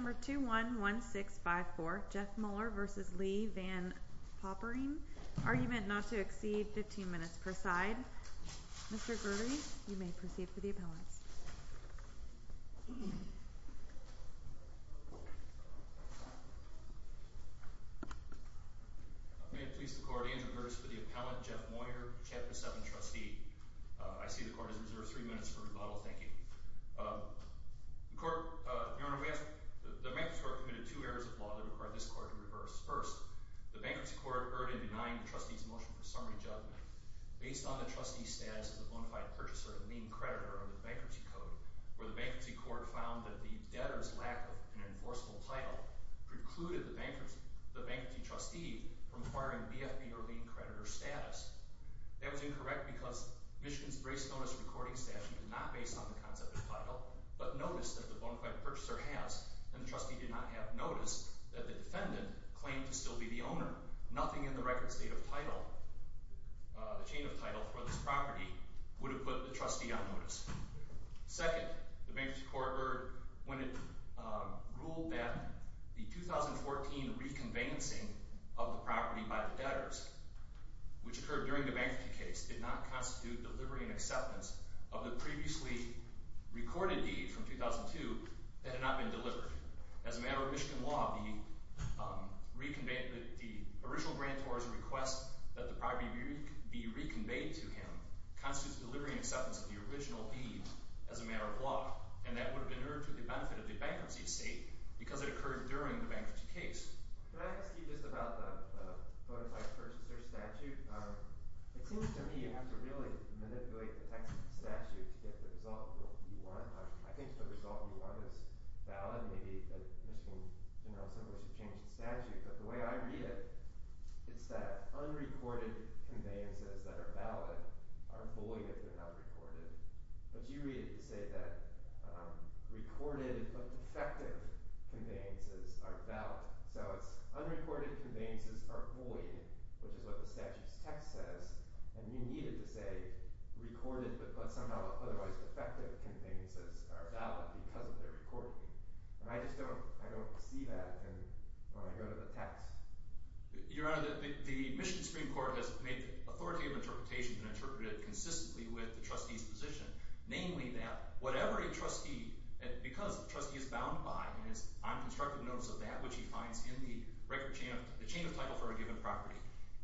Number 211654, Jeff Moyer v. Lee VanPopering, argument not to exceed 15 minutes per side. Mr. Gurley, you may proceed for the appellants. May it please the court, Andrew Curtis for the appellant, Jeff Moyer, Chapter 7 trustee. I see the court has reserved three minutes for rebuttal. Thank you. Your Honor, the bankruptcy court committed two errors of law that required this court to reverse. First, the bankruptcy court erred in denying the trustee's motion for summary judgment based on the trustee's status as a bonafide purchaser and lien creditor under the bankruptcy code, where the bankruptcy court found that the debtor's lack of an enforceable title precluded the bankruptcy trustee from acquiring BFB or lien creditor status. That was incorrect because Michigan's brace notice recording statute is not based on the concept of title, but notice that the bonafide purchaser has, and the trustee did not have notice that the defendant claimed to still be the owner. Nothing in the record state of title, the chain of title for this property, would have put the trustee on notice. Second, the bankruptcy court erred when it ruled that the 2014 reconvenancing of the property by the debtors, which occurred during the bankruptcy case, did not constitute delivery and acceptance of the previously recorded deed from 2002 that had not been delivered. As a matter of Michigan law, the original grantor's request that the property be reconveyed to him constitutes delivery and acceptance of the original deed as a matter of law. And that would have been in order to the benefit of the bankruptcy estate because it occurred during the bankruptcy case. Can I ask you just about the bonafide purchaser statute? It seems to me you have to really manipulate the text of the statute to get the result you want. I think the result you want is valid. Maybe, as you know, someone should change the statute. But the way I read it, it's that unrecorded conveyances that are valid are void if they're not recorded. But you read it to say that recorded but defective conveyances are valid. So it's unrecorded conveyances are void, which is what the statute's text says. And you need it to say recorded but somehow otherwise defective conveyances are valid because of their recording. And I just don't see that when I go to the text. Your Honor, the Michigan Supreme Court has made the authority of interpretation and interpreted it consistently with the trustee's position, namely that whatever a trustee, because the trustee is bound by and is on constructive notice of that which he finds in the chain of title for a given property.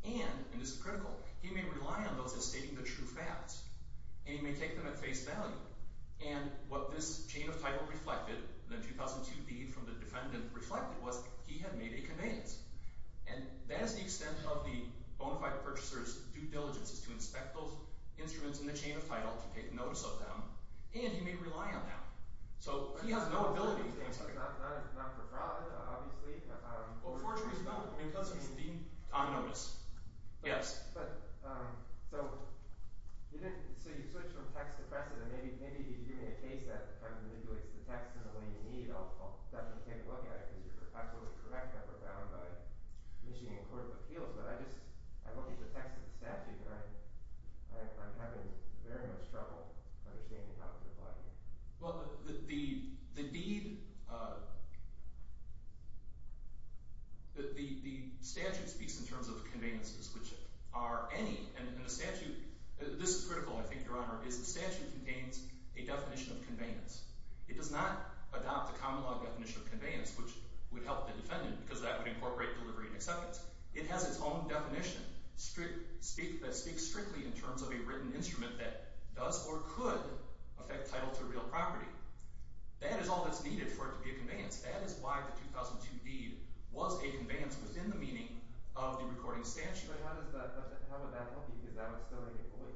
And, and this is critical, he may rely on those as stating the true facts. And he may take them at face value. And what this chain of title reflected, the 2002 deed from the defendant reflected, was he had made a conveyance. And that is the extent of the bona fide purchaser's due diligence, is to inspect those instruments in the chain of title to take notice of them. And he may rely on that. So he has no ability to do that. So it's not for fraud, obviously. Well, fortunately, it's not because he's being on notice. Yes. But, so you didn't, so you switched from text to precedent. And maybe if you give me a case that kind of manipulates the text in the way you need, I'll definitely take a look at it. Because you're absolutely correct that we're bound by Michigan Court of Appeals. But I just, I don't need the text of the statute. And I'm having very much trouble understanding how to apply it. Well, the deed, the statute speaks in terms of conveyances, which are any. And the statute, this is critical, I think, Your Honor, is the statute contains a definition of conveyance. It does not adopt the common law definition of conveyance, which would help the defendant, because that would incorporate delivery and acceptance. It has its own definition that speaks strictly in terms of a written instrument that does or could affect title to a real property. That is all that's needed for it to be a conveyance. That is why the 2002 deed was a conveyance within the meaning of the recording statute. But how does that, how would that help you? Because that would still be a void?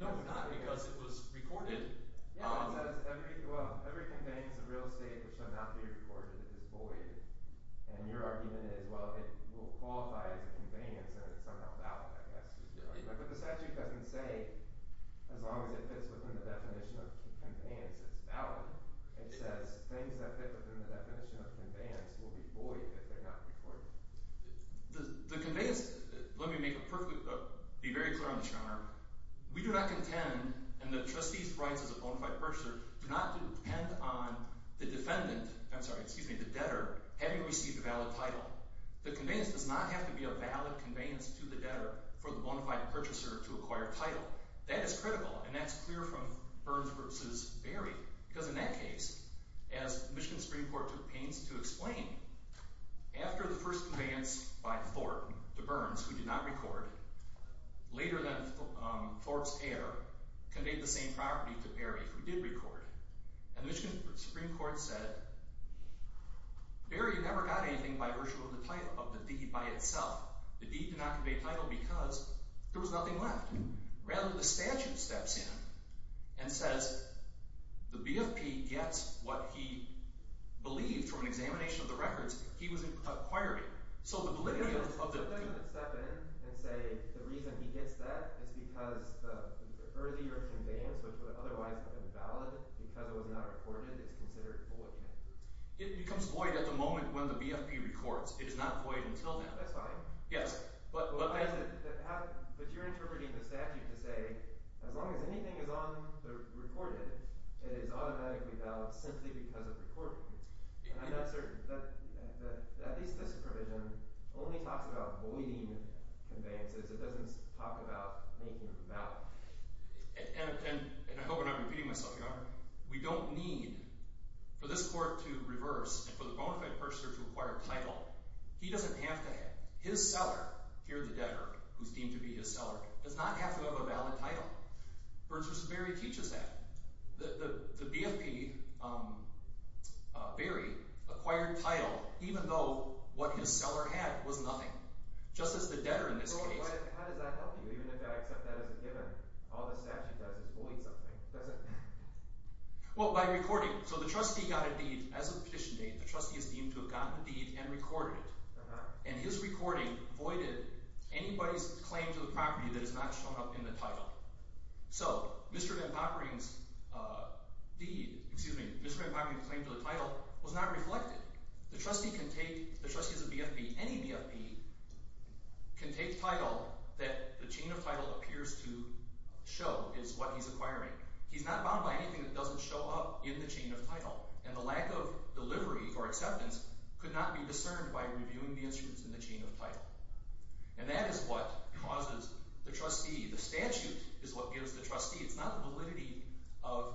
No, not because it was recorded. Yeah, it says every, well, every conveyance of real estate which should not be recorded is void. And your argument is, well, it will qualify as a conveyance. And it's somehow valid, I guess, is your argument. But the statute doesn't say, as long as it fits within the definition of conveyance, it's valid. It says things that fit within the definition of conveyance will be void if they're not recorded. The conveyance, let me make a perfect, be very clear on this, Your Honor. We do not contend, and the trustee's rights as a bona fide purchaser do not depend on the defendant, I'm sorry, excuse me, the debtor, having received a valid title. The conveyance does not have to be a valid conveyance to the debtor for the bona fide purchaser to acquire a title. That is critical, and that's clear from Burns versus Berry. Because in that case, as Michigan Supreme Court took pains to explain, after the first conveyance by Thorpe to Burns, who did not record, later then, Thorpe's heir conveyed the same property to Berry, who did record. And Michigan Supreme Court said, Berry never got anything by virtue of the deed by itself. The deed did not convey title because there was nothing left. Rather, the statute steps in and says, the BFP gets what he believed from an examination of the records he was acquiring. So the validity of the- If the defendant would step in and say, the reason he gets that is because the earlier conveyance, which would otherwise have been valid, because it was not recorded, is considered void. It becomes void at the moment when the BFP records. It is not void until then. That's fine. Yes, but- But you're interpreting the statute to say, as long as anything is on the recorded, it is automatically valid simply because of recording. And I'm not certain, but at least this provision only talks about voiding conveyances. It doesn't talk about making them valid. And I hope I'm not repeating myself, Your Honor. We don't need, for this court to reverse, and for the bona fide purchaser to acquire title, he doesn't have to have. His seller, here the debtor, who's deemed to be his seller, does not have to have a valid title. Burgess-Berry teaches that. The BFP, Berry, acquired title even though what his seller had was nothing, just as the debtor in this case. How does that help you? Even if I accept that as a given, all the statute does is void something, doesn't it? Well, by recording. So the trustee got a deed. As of the petition date, the trustee is deemed to have gotten a deed and recorded it. And his recording voided anybody's claim to the property that is not shown up in the title. So Mr. Van Poppering's deed, excuse me, Mr. Van Poppering's claim to the title was not reflected. The trustee can take, the trustee is a BFP, any BFP can take title that the chain of title appears to show is what he's acquiring. He's not bound by anything that doesn't show up in the chain of title. And the lack of delivery for acceptance could not be discerned by reviewing the instruments in the chain of title. And that is what causes the trustee, the statute is what gives the trustee. It's not the validity of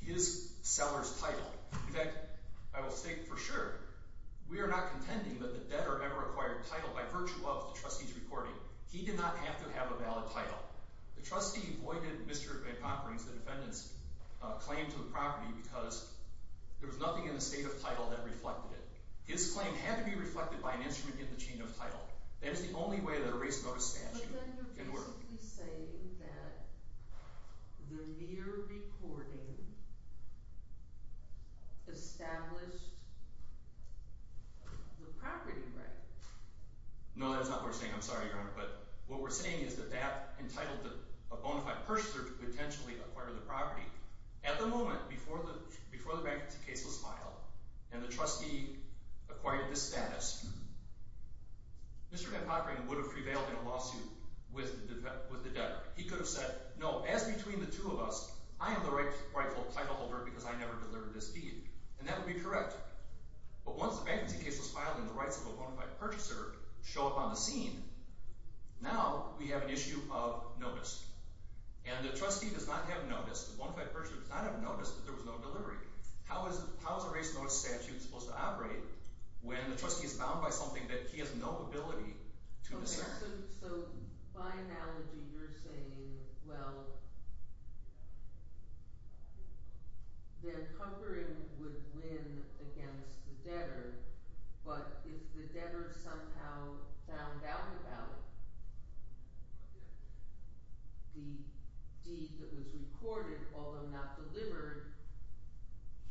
his seller's title. In fact, I will say for sure, we are not contending that the debtor ever acquired title by virtue of the trustee's recording. He did not have to have a valid title. The trustee voided Mr. Van Poppering's, the defendant's claim to the property because there was nothing in the state of title that reflected it. His claim had to be reflected by an instrument in the chain of title. That is the only way that a race notice statute can work. But then you're basically saying that the mere recording established the property right. No, that's not what we're saying. I'm sorry, Your Honor. But what we're saying is that that entitled a bona fide purchaser to potentially acquire the property at the moment before the bankruptcy case was filed. And the trustee acquired this status. Mr. Van Poppering would have prevailed in a lawsuit with the debtor. He could have said, no, as between the two of us, I am the rightful title holder because I never delivered this deed. And that would be correct. But once the bankruptcy case was filed and the rights of a bona fide purchaser show up on the scene, now we have an issue of notice. And the trustee does not have notice, the bona fide purchaser does not have notice that there was no delivery. How is a race law statute supposed to operate when the trustee is bound by something that he has no ability to discern? So by analogy, you're saying, well, Van Poppering would win against the debtor. But if the debtor somehow found out about the deed that was recorded, although not delivered,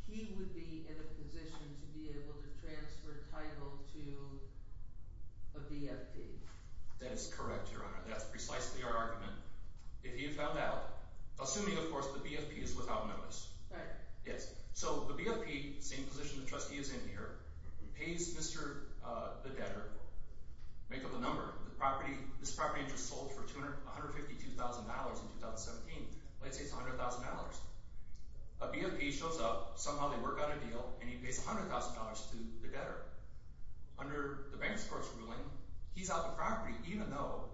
he would be in a position to be able to transfer title to a BFP. That is correct, Your Honor. That's precisely our argument. If he had found out, assuming, of course, the BFP is without notice. Right. Yes. So the BFP, same position the trustee is in here, pays Mr. the debtor, make up a number. The property, this property just sold for $152,000 in 2017. Let's say it's $100,000. A BFP shows up, somehow they work out a deal, and he pays $100,000 to the debtor. Under the bank's court's ruling, he's out the property, even though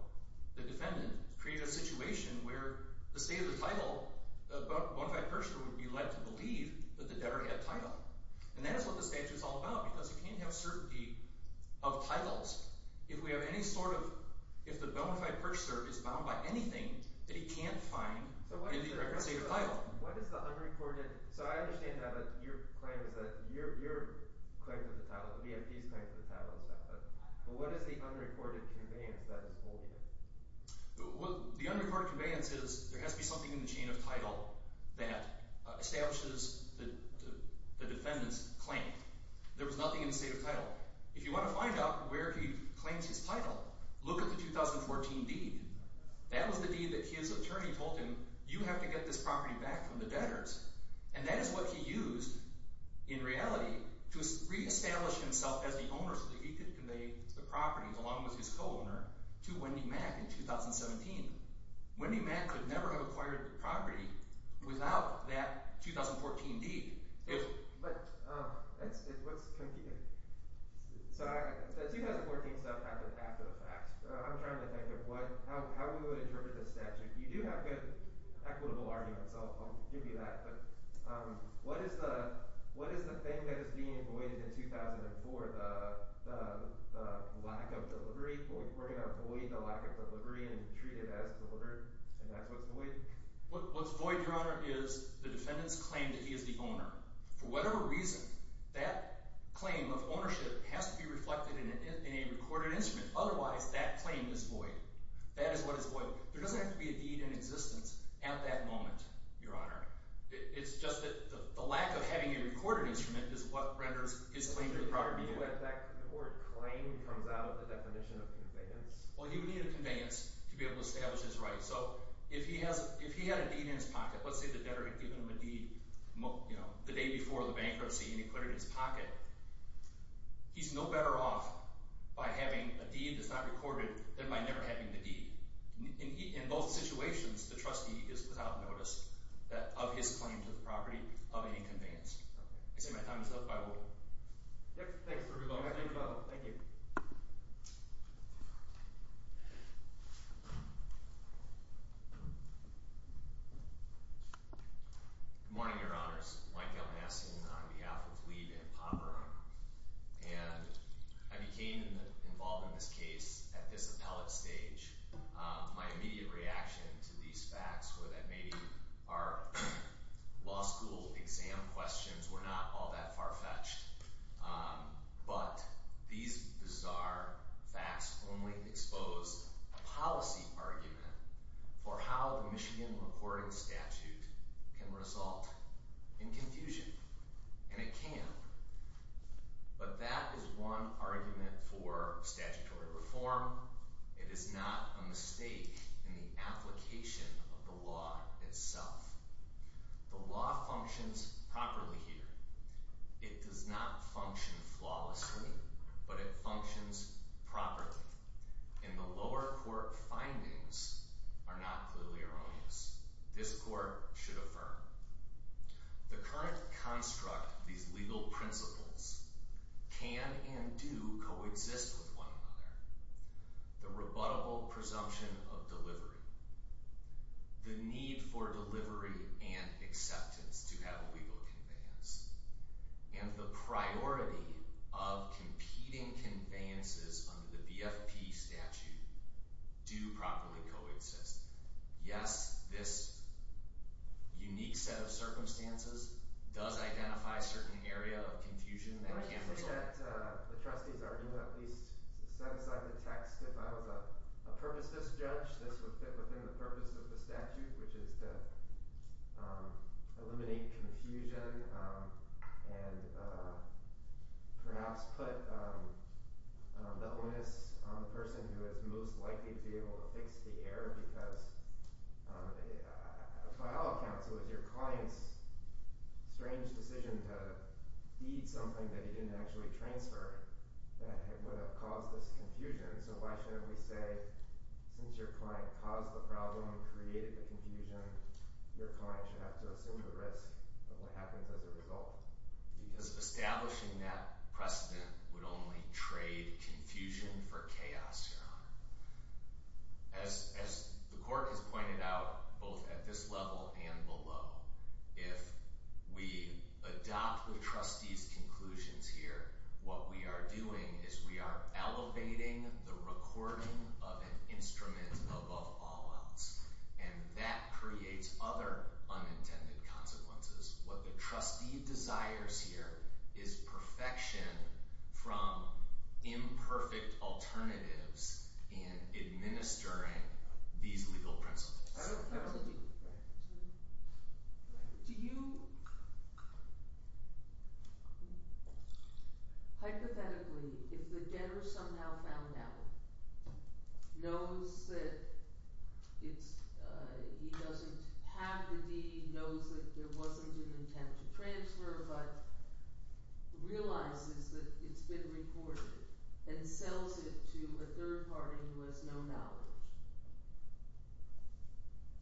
the defendant created a situation where the state of the title, a bona fide purchaser would be led to believe that the debtor had title. And that is what the statute's all about, because you can't have certainty of titles if we have any sort of, if the bona fide purchaser is bound by anything that he can't find in the record state of title. What is the unrecorded, so I understand now that your claim is that, your claim is the title, the BFP's claim is the title. But what is the unrecorded conveyance that is holding it? Well, the unrecorded conveyance is there has to be something in the chain of title that establishes the defendant's claim. There was nothing in the state of title. If you want to find out where he claims his title, look at the 2014 deed. That was the deed that his attorney told him, you have to get this property back from the debtors. And that is what he used, in reality, to reestablish himself as the owner so that he could convey the property, along with his co-owner, to Wendy Mack in 2017. Wendy Mack could never have acquired the property without that 2014 deed. If... But, let's continue. So that 2014 stuff happened after the fact. I'm trying to think of how we would interpret this statute. You do have good, equitable arguments, I'll give you that. But what is the thing that is being voided in 2004? The lack of delivery? We're going to void the lack of delivery and treat it as delivered? And that's what's voided? What's voided, Your Honor, is the defendant's claim that he is the owner. For whatever reason, that claim of ownership has to be reflected in a recorded instrument. Otherwise, that claim is void. That is what is voided. There doesn't have to be a deed in existence at that moment, Your Honor. It's just that the lack of having a recorded instrument is what renders his claim to the property void. The word claim comes out of the definition of conveyance. Well, he would need a conveyance to be able to establish his rights. So, if he had a deed in his pocket, let's say the debtor had given him a deed the day before the bankruptcy and he put it in his pocket, he's no better off by having a deed that's not recorded than by never having the deed. In both situations, the trustee is without notice of his claim to the property of any conveyance. I say my time is up. I will... Yep, thanks for your time. Thank you, Your Honor. Thank you. Good morning, Your Honors. Mike Elnassian on behalf of Leib and Pomeroy. And I became involved in this case at this appellate stage. My immediate reaction to these facts were that maybe our law school exam questions were not all that far-fetched, but these bizarre facts only expose a policy argument for how a Michigan recording statute can result in confusion. And it can. But that is one argument for statutory reform. It is not a mistake in the application of the law itself. The law functions properly here. It does not function flawlessly, but it functions properly. And the lower court findings are not clearly erroneous. This court should affirm. The current construct of these legal principles can and do coexist with one another. The rebuttable presumption of delivery, the need for delivery and acceptance to have a legal conveyance, and the priority of competing conveyances under the BFP statute do properly coexist. Yes, this unique set of circumstances does identify certain area of confusion that can result. I think that the trustees are in the least satisfied with the text. If I was a purposeless judge, this would fit within the purpose of the statute, which is to eliminate confusion and perhaps put the onus on the person who is most likely to be able to fix the error because a trial of counsel is your client's strange decision to feed something that he didn't actually transfer that would have caused this confusion. So why shouldn't we say, since your client caused the problem, created the confusion, your client should have to assume the risk of what happens as a result? Because establishing that precedent would only trade confusion for chaos, John. As the court has pointed out, both at this level and below, if we adopt the trustee's conclusions here, what we are doing is we are elevating the recording of an instrument above all else, and that creates other unintended consequences. What the trustee desires here is perfection from imperfect alternatives in administering these legal principles. Hypothetically, if the debtor somehow found out, knows that he doesn't have the deed, but realizes that it's been recorded and sells it to a third party who has no knowledge,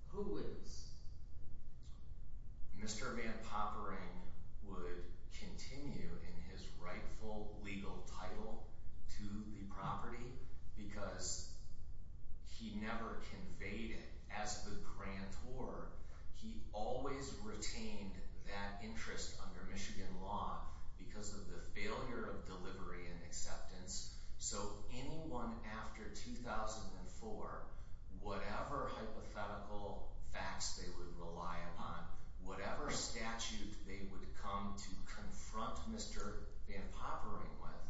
who wins? Mr. Van Poppering would continue in his rightful legal title to the property because he never conveyed it as the grantor. He always retained that interest under Michigan law because of the failure of delivery and acceptance. So anyone after 2004, whatever hypothetical facts they would rely upon, whatever statute they would come to confront Mr. Van Poppering with,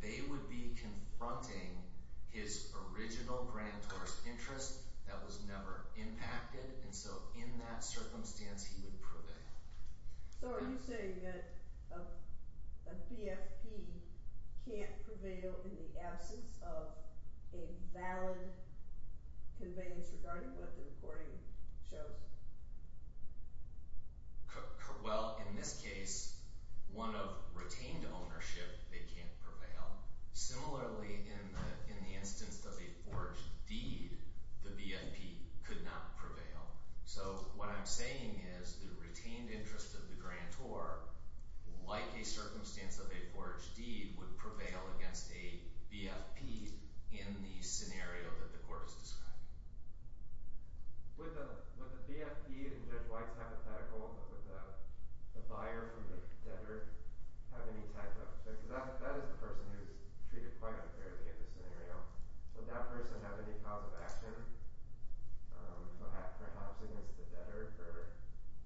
they would be confronting his original grantor's interest that was never impacted. And so in that circumstance, he would prevail. So are you saying that a BFP can't prevail in the absence of a valid conveyance regarding what the recording shows? Well, in this case, one of retained ownership, they can't prevail. Similarly, in the instance of a forged deed, the BFP could not prevail. So what I'm saying is the retained interest of the grantor, like a circumstance of a forged deed, would prevail against a BFP in the scenario that the court has described. With a BFP in this white hypothetical, would the buyer or the debtor have any type of, because that is a person who's treated quite unfairly in this scenario, would that person have any cause of action perhaps against the debtor for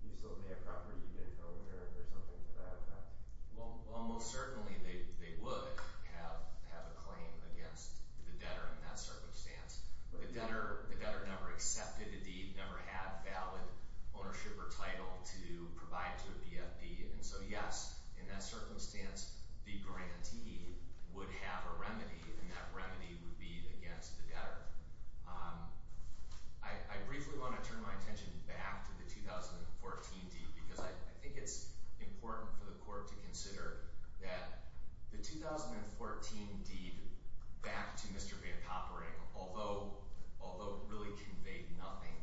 use of their property to get a loan or something to that effect? Well, almost certainly they would have a claim against the debtor in that circumstance. But the debtor never accepted the deed, never had valid ownership or title to provide to a BFP. the grantee would have a remedy, and that remedy would be against the debtor. I briefly wanna turn my attention back to the 2014 deed because I think it's important for the court to consider that the 2014 deed back to Mr. Van Poppering, although really conveyed nothing,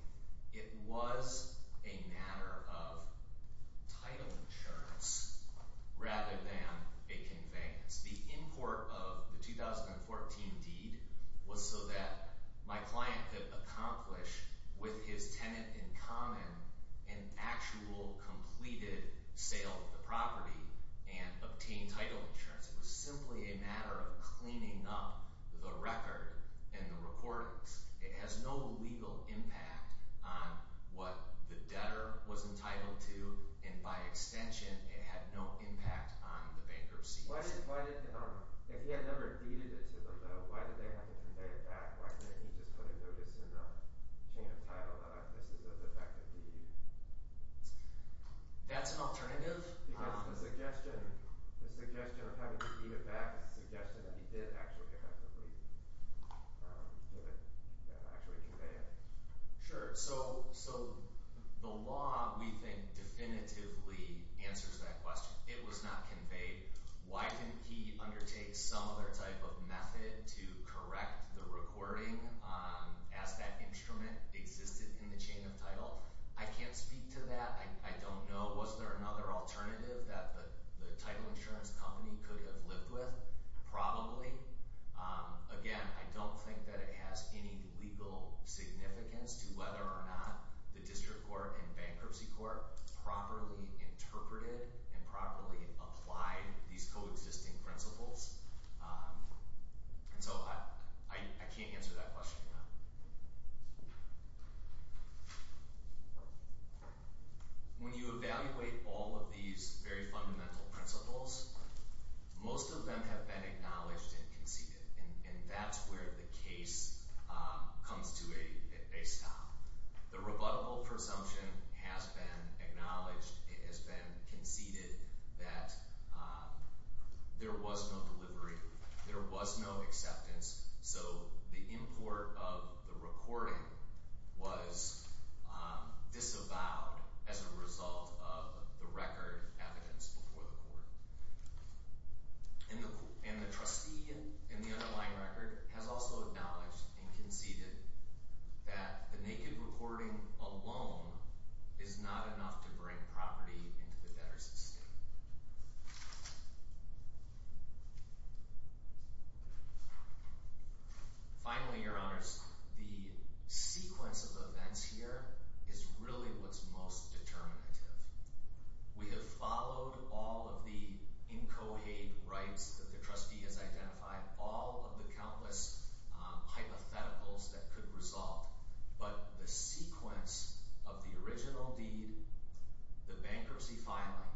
it was a matter of title insurance rather than a conveyance. The import of the 2014 deed was so that my client could accomplish with his tenant in common an actual completed sale of the property and obtain title insurance. It was simply a matter of cleaning up the record and the records. It has no legal impact on what the debtor was entitled to, and by extension, it had no impact on the bankruptcy. Why did, if he had never defeated it to the vote, why did they have to convey it back? Why didn't he just put a notice in the chain of title that this is a defective deed? That's an alternative. Because the suggestion of having to beat it back is a suggestion that he did actually have to leave with an actuating debt. Sure, so the law, we think, definitively answers that question. It was not conveyed. Why didn't he undertake some other type of method to correct the recording as that instrument existed in the chain of title? I can't speak to that. I don't know. Was there another alternative that the title insurance company could have lived with? Probably. Again, I don't think that it has any legal significance to whether or not the district court and bankruptcy court has properly interpreted and properly applied these coexisting principles. And so I can't answer that question now. When you evaluate all of these very fundamental principles, most of them have been acknowledged and conceded. And that's where the case comes to a stop. The rebuttable presumption has been acknowledged. It has been conceded that there was no delivery. There was no acceptance. So the import of the recording was disavowed as a result of the record evidence before the court. And the trustee in the underlying record has also acknowledged and conceded that the naked recording alone is not enough to bring property into the debtor's estate. Finally, your honors, the sequence of events here is really what's most determinative. We have followed all of the incohate rights that the trustee has identified, all of the countless hypotheticals that could result. But the sequence of the original deed, the bankruptcy filing,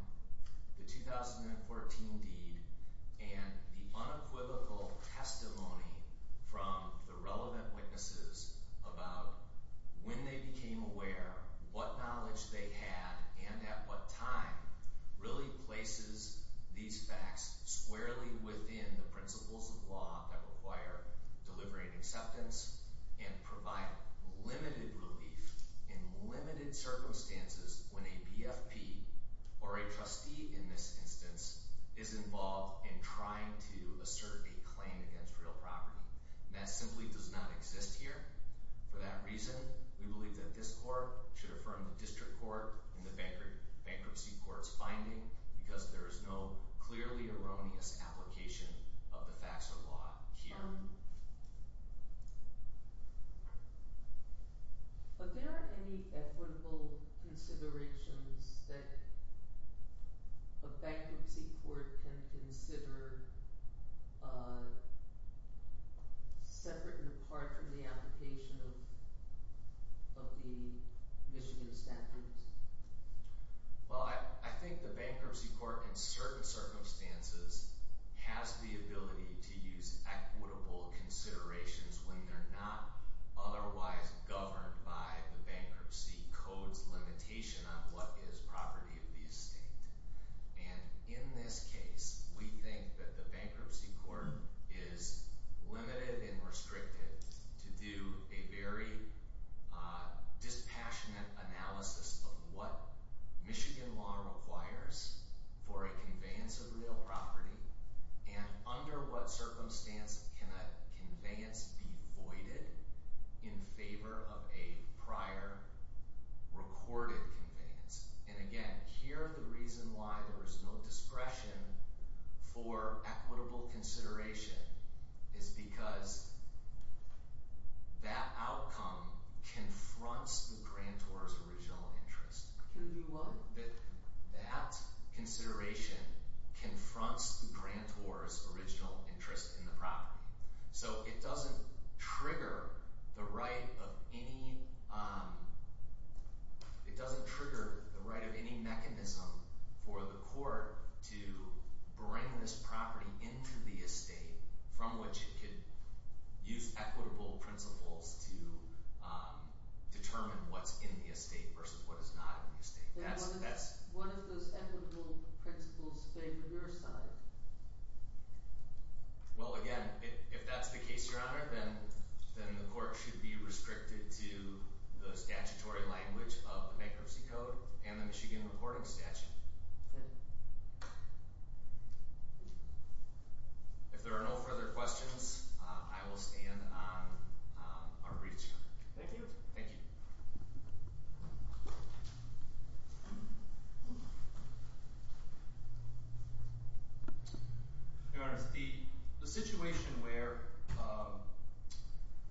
the 2014 deed, and the unequivocal testimony from the relevant witnesses about when they became aware, what knowledge they had and at what time really places these facts squarely within the principles of law that require delivery and acceptance and provide limited relief in limited circumstances when a BFP or a trustee in this instance is involved in trying to assert a claim against real property. That simply does not exist here. For that reason, we believe that this court should affirm the district court and the bankruptcy court's finding because there is no clearly erroneous application of the facts of law here. But there aren't any equitable considerations that a bankruptcy court can consider separate and apart from the application of the Michigan standards. Well, I think the bankruptcy court in certain circumstances has the ability to use equitable considerations when they're not otherwise governed by the bankruptcy code's limitation on what is property of the estate. And in this case, we think that the bankruptcy court is limited and restricted to do a very dispassionate analysis of what Michigan law requires for a conveyance of real property and under what circumstance can a conveyance be voided in favor of a prior recorded conveyance. And again, here, the reason why there is no discretion for equitable consideration is because that outcome confronts the grantor's original interest. And we want that that consideration confronts the grantor's original interest in the property. So it doesn't trigger the right of any, it doesn't trigger the right of any mechanism for the court to bring this property into the estate from which it could use equitable principles to determine what's in the estate versus what is not in the estate. That's- One of those equitable principles, favor your side. Well, again, if that's the case, Your Honor, then the court should be restricted to the statutory language of the bankruptcy code and the Michigan recording statute. If there are no further questions, I will stand on our breach. Thank you. Thank you. Thank you. Your Honor, the situation where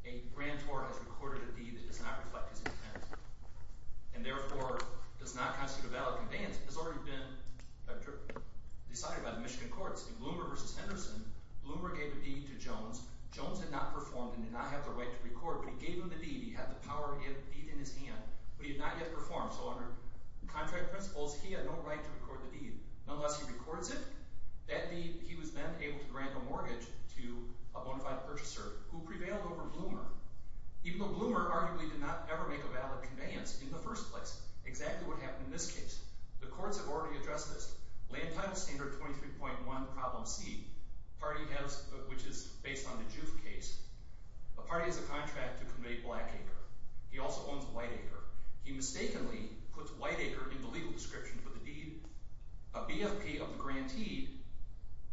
a grantor has recorded a deed that does not reflect his intent and therefore does not constitute a valid conveyance has already been decided by the Michigan courts. In Bloomer v. Henderson, Bloomer gave a deed to Jones. Jones had not performed and did not have the right to record, but he gave him the deed. He had the power deed in his hand, but he had not yet performed. So under contract principles, he had no right to record the deed. Unless he records it, that deed, he was then able to grant a mortgage to a bona fide purchaser who prevailed over Bloomer, even though Bloomer arguably did not ever make a valid conveyance in the first place, exactly what happened in this case. The courts have already addressed this. Land Title Standard 23.1, Problem C, party has, which is based on the Juve case, a party has a contract to convey black acre. He also owns white acre. He mistakenly puts white acre in the legal description for the deed. A BFP of the grantee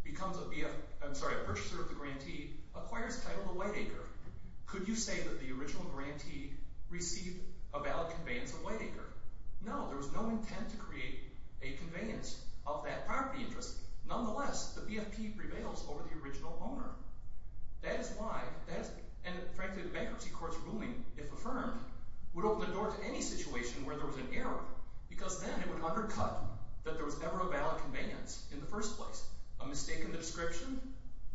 becomes a BF, I'm sorry, a purchaser of the grantee acquires title of white acre. Could you say that the original grantee received a valid conveyance of white acre? No, there was no intent to create a conveyance of that property interest. Nonetheless, the BFP prevails over the original owner. That is why, and frankly, the bankruptcy court's ruling, if affirmed, would open the door to any situation where there was an error, because then it would undercut that there was ever a valid conveyance in the first place. A mistake in the description,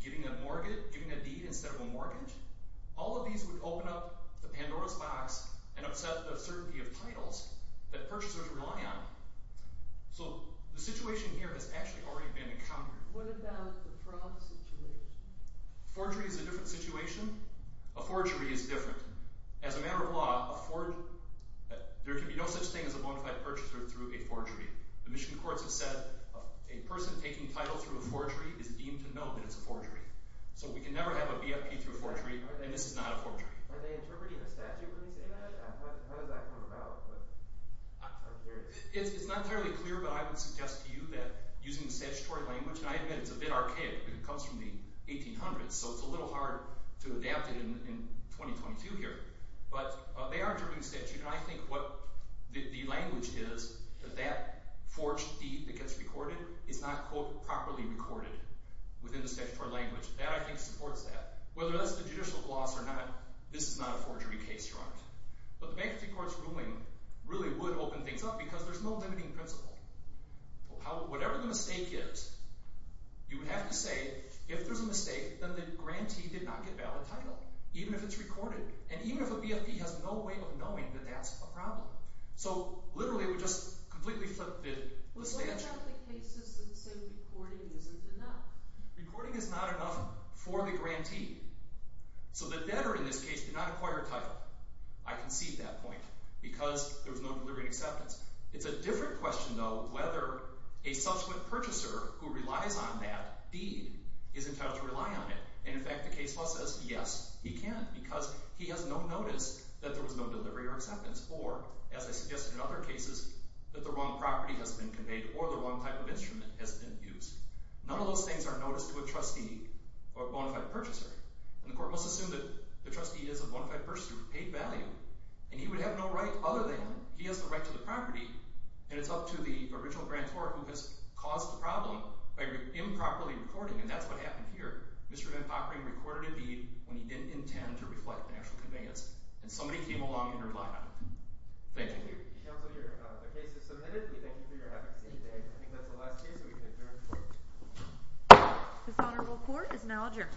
giving a deed instead of a mortgage, all of these would open up the Pandora's box and upset the certainty of titles that purchasers rely on. So the situation here has actually already been encountered. What about the fraud situation? Forgery is a different situation. A forgery is different. As a matter of law, there can be no such thing as a bona fide purchaser through a forgery. The Michigan courts have said, a person taking title through a forgery is deemed to know that it's a forgery. So we can never have a BFP through a forgery, and this is not a forgery. Are they interpreting the statute when they say that? How does that come about? It's not entirely clear, but I would suggest to you that using the statutory language, and I admit it's a bit archaic, but it comes from the 1800s, so it's a little hard to adapt it in 2022 here, but they are interpreting the statute, and I think what the language is, that that forged deed that gets recorded is not, quote, properly recorded within the statutory language. That, I think, supports that. Whether that's the judicial gloss or not, this is not a forgery case, Your Honor. But the bankruptcy court's ruling really would open things up because there's no limiting principle. Whatever the mistake is, you would have to say, if there's a mistake, then the grantee did not get a valid title, even if it's recorded, and even if a BFP has no way of knowing that that's a problem. So, literally, it would just completely flip the statute. What about the cases that say recording isn't enough? Recording is not enough for the grantee. So the debtor, in this case, did not acquire a title. I concede that point because there was no deliberate acceptance. It's a different question, though, whether a subsequent purchaser who relies on that deed is entitled to rely on it. And, in fact, the case law says, yes, he can because he has no notice that there was no delivery or acceptance, or, as I suggested in other cases, that the wrong property has been conveyed or the wrong type of instrument has been used. None of those things are noticed to a trustee or a bona fide purchaser. And the court must assume that the trustee is a bona fide purchaser of paid value, and he would have no right other than he has the right to the property, and it's up to the original grantor who has caused the problem by improperly recording, and that's what happened here. Mr. Van Pockering recorded a deed when he didn't intend to reflect an actual conveyance, and somebody came along and relied on it. Thank you. Thank you, Counselor. The case is submitted. We thank you for your advocacy today. I think that's the last case that we can adjourn for. Dishonorable Court is now adjourned.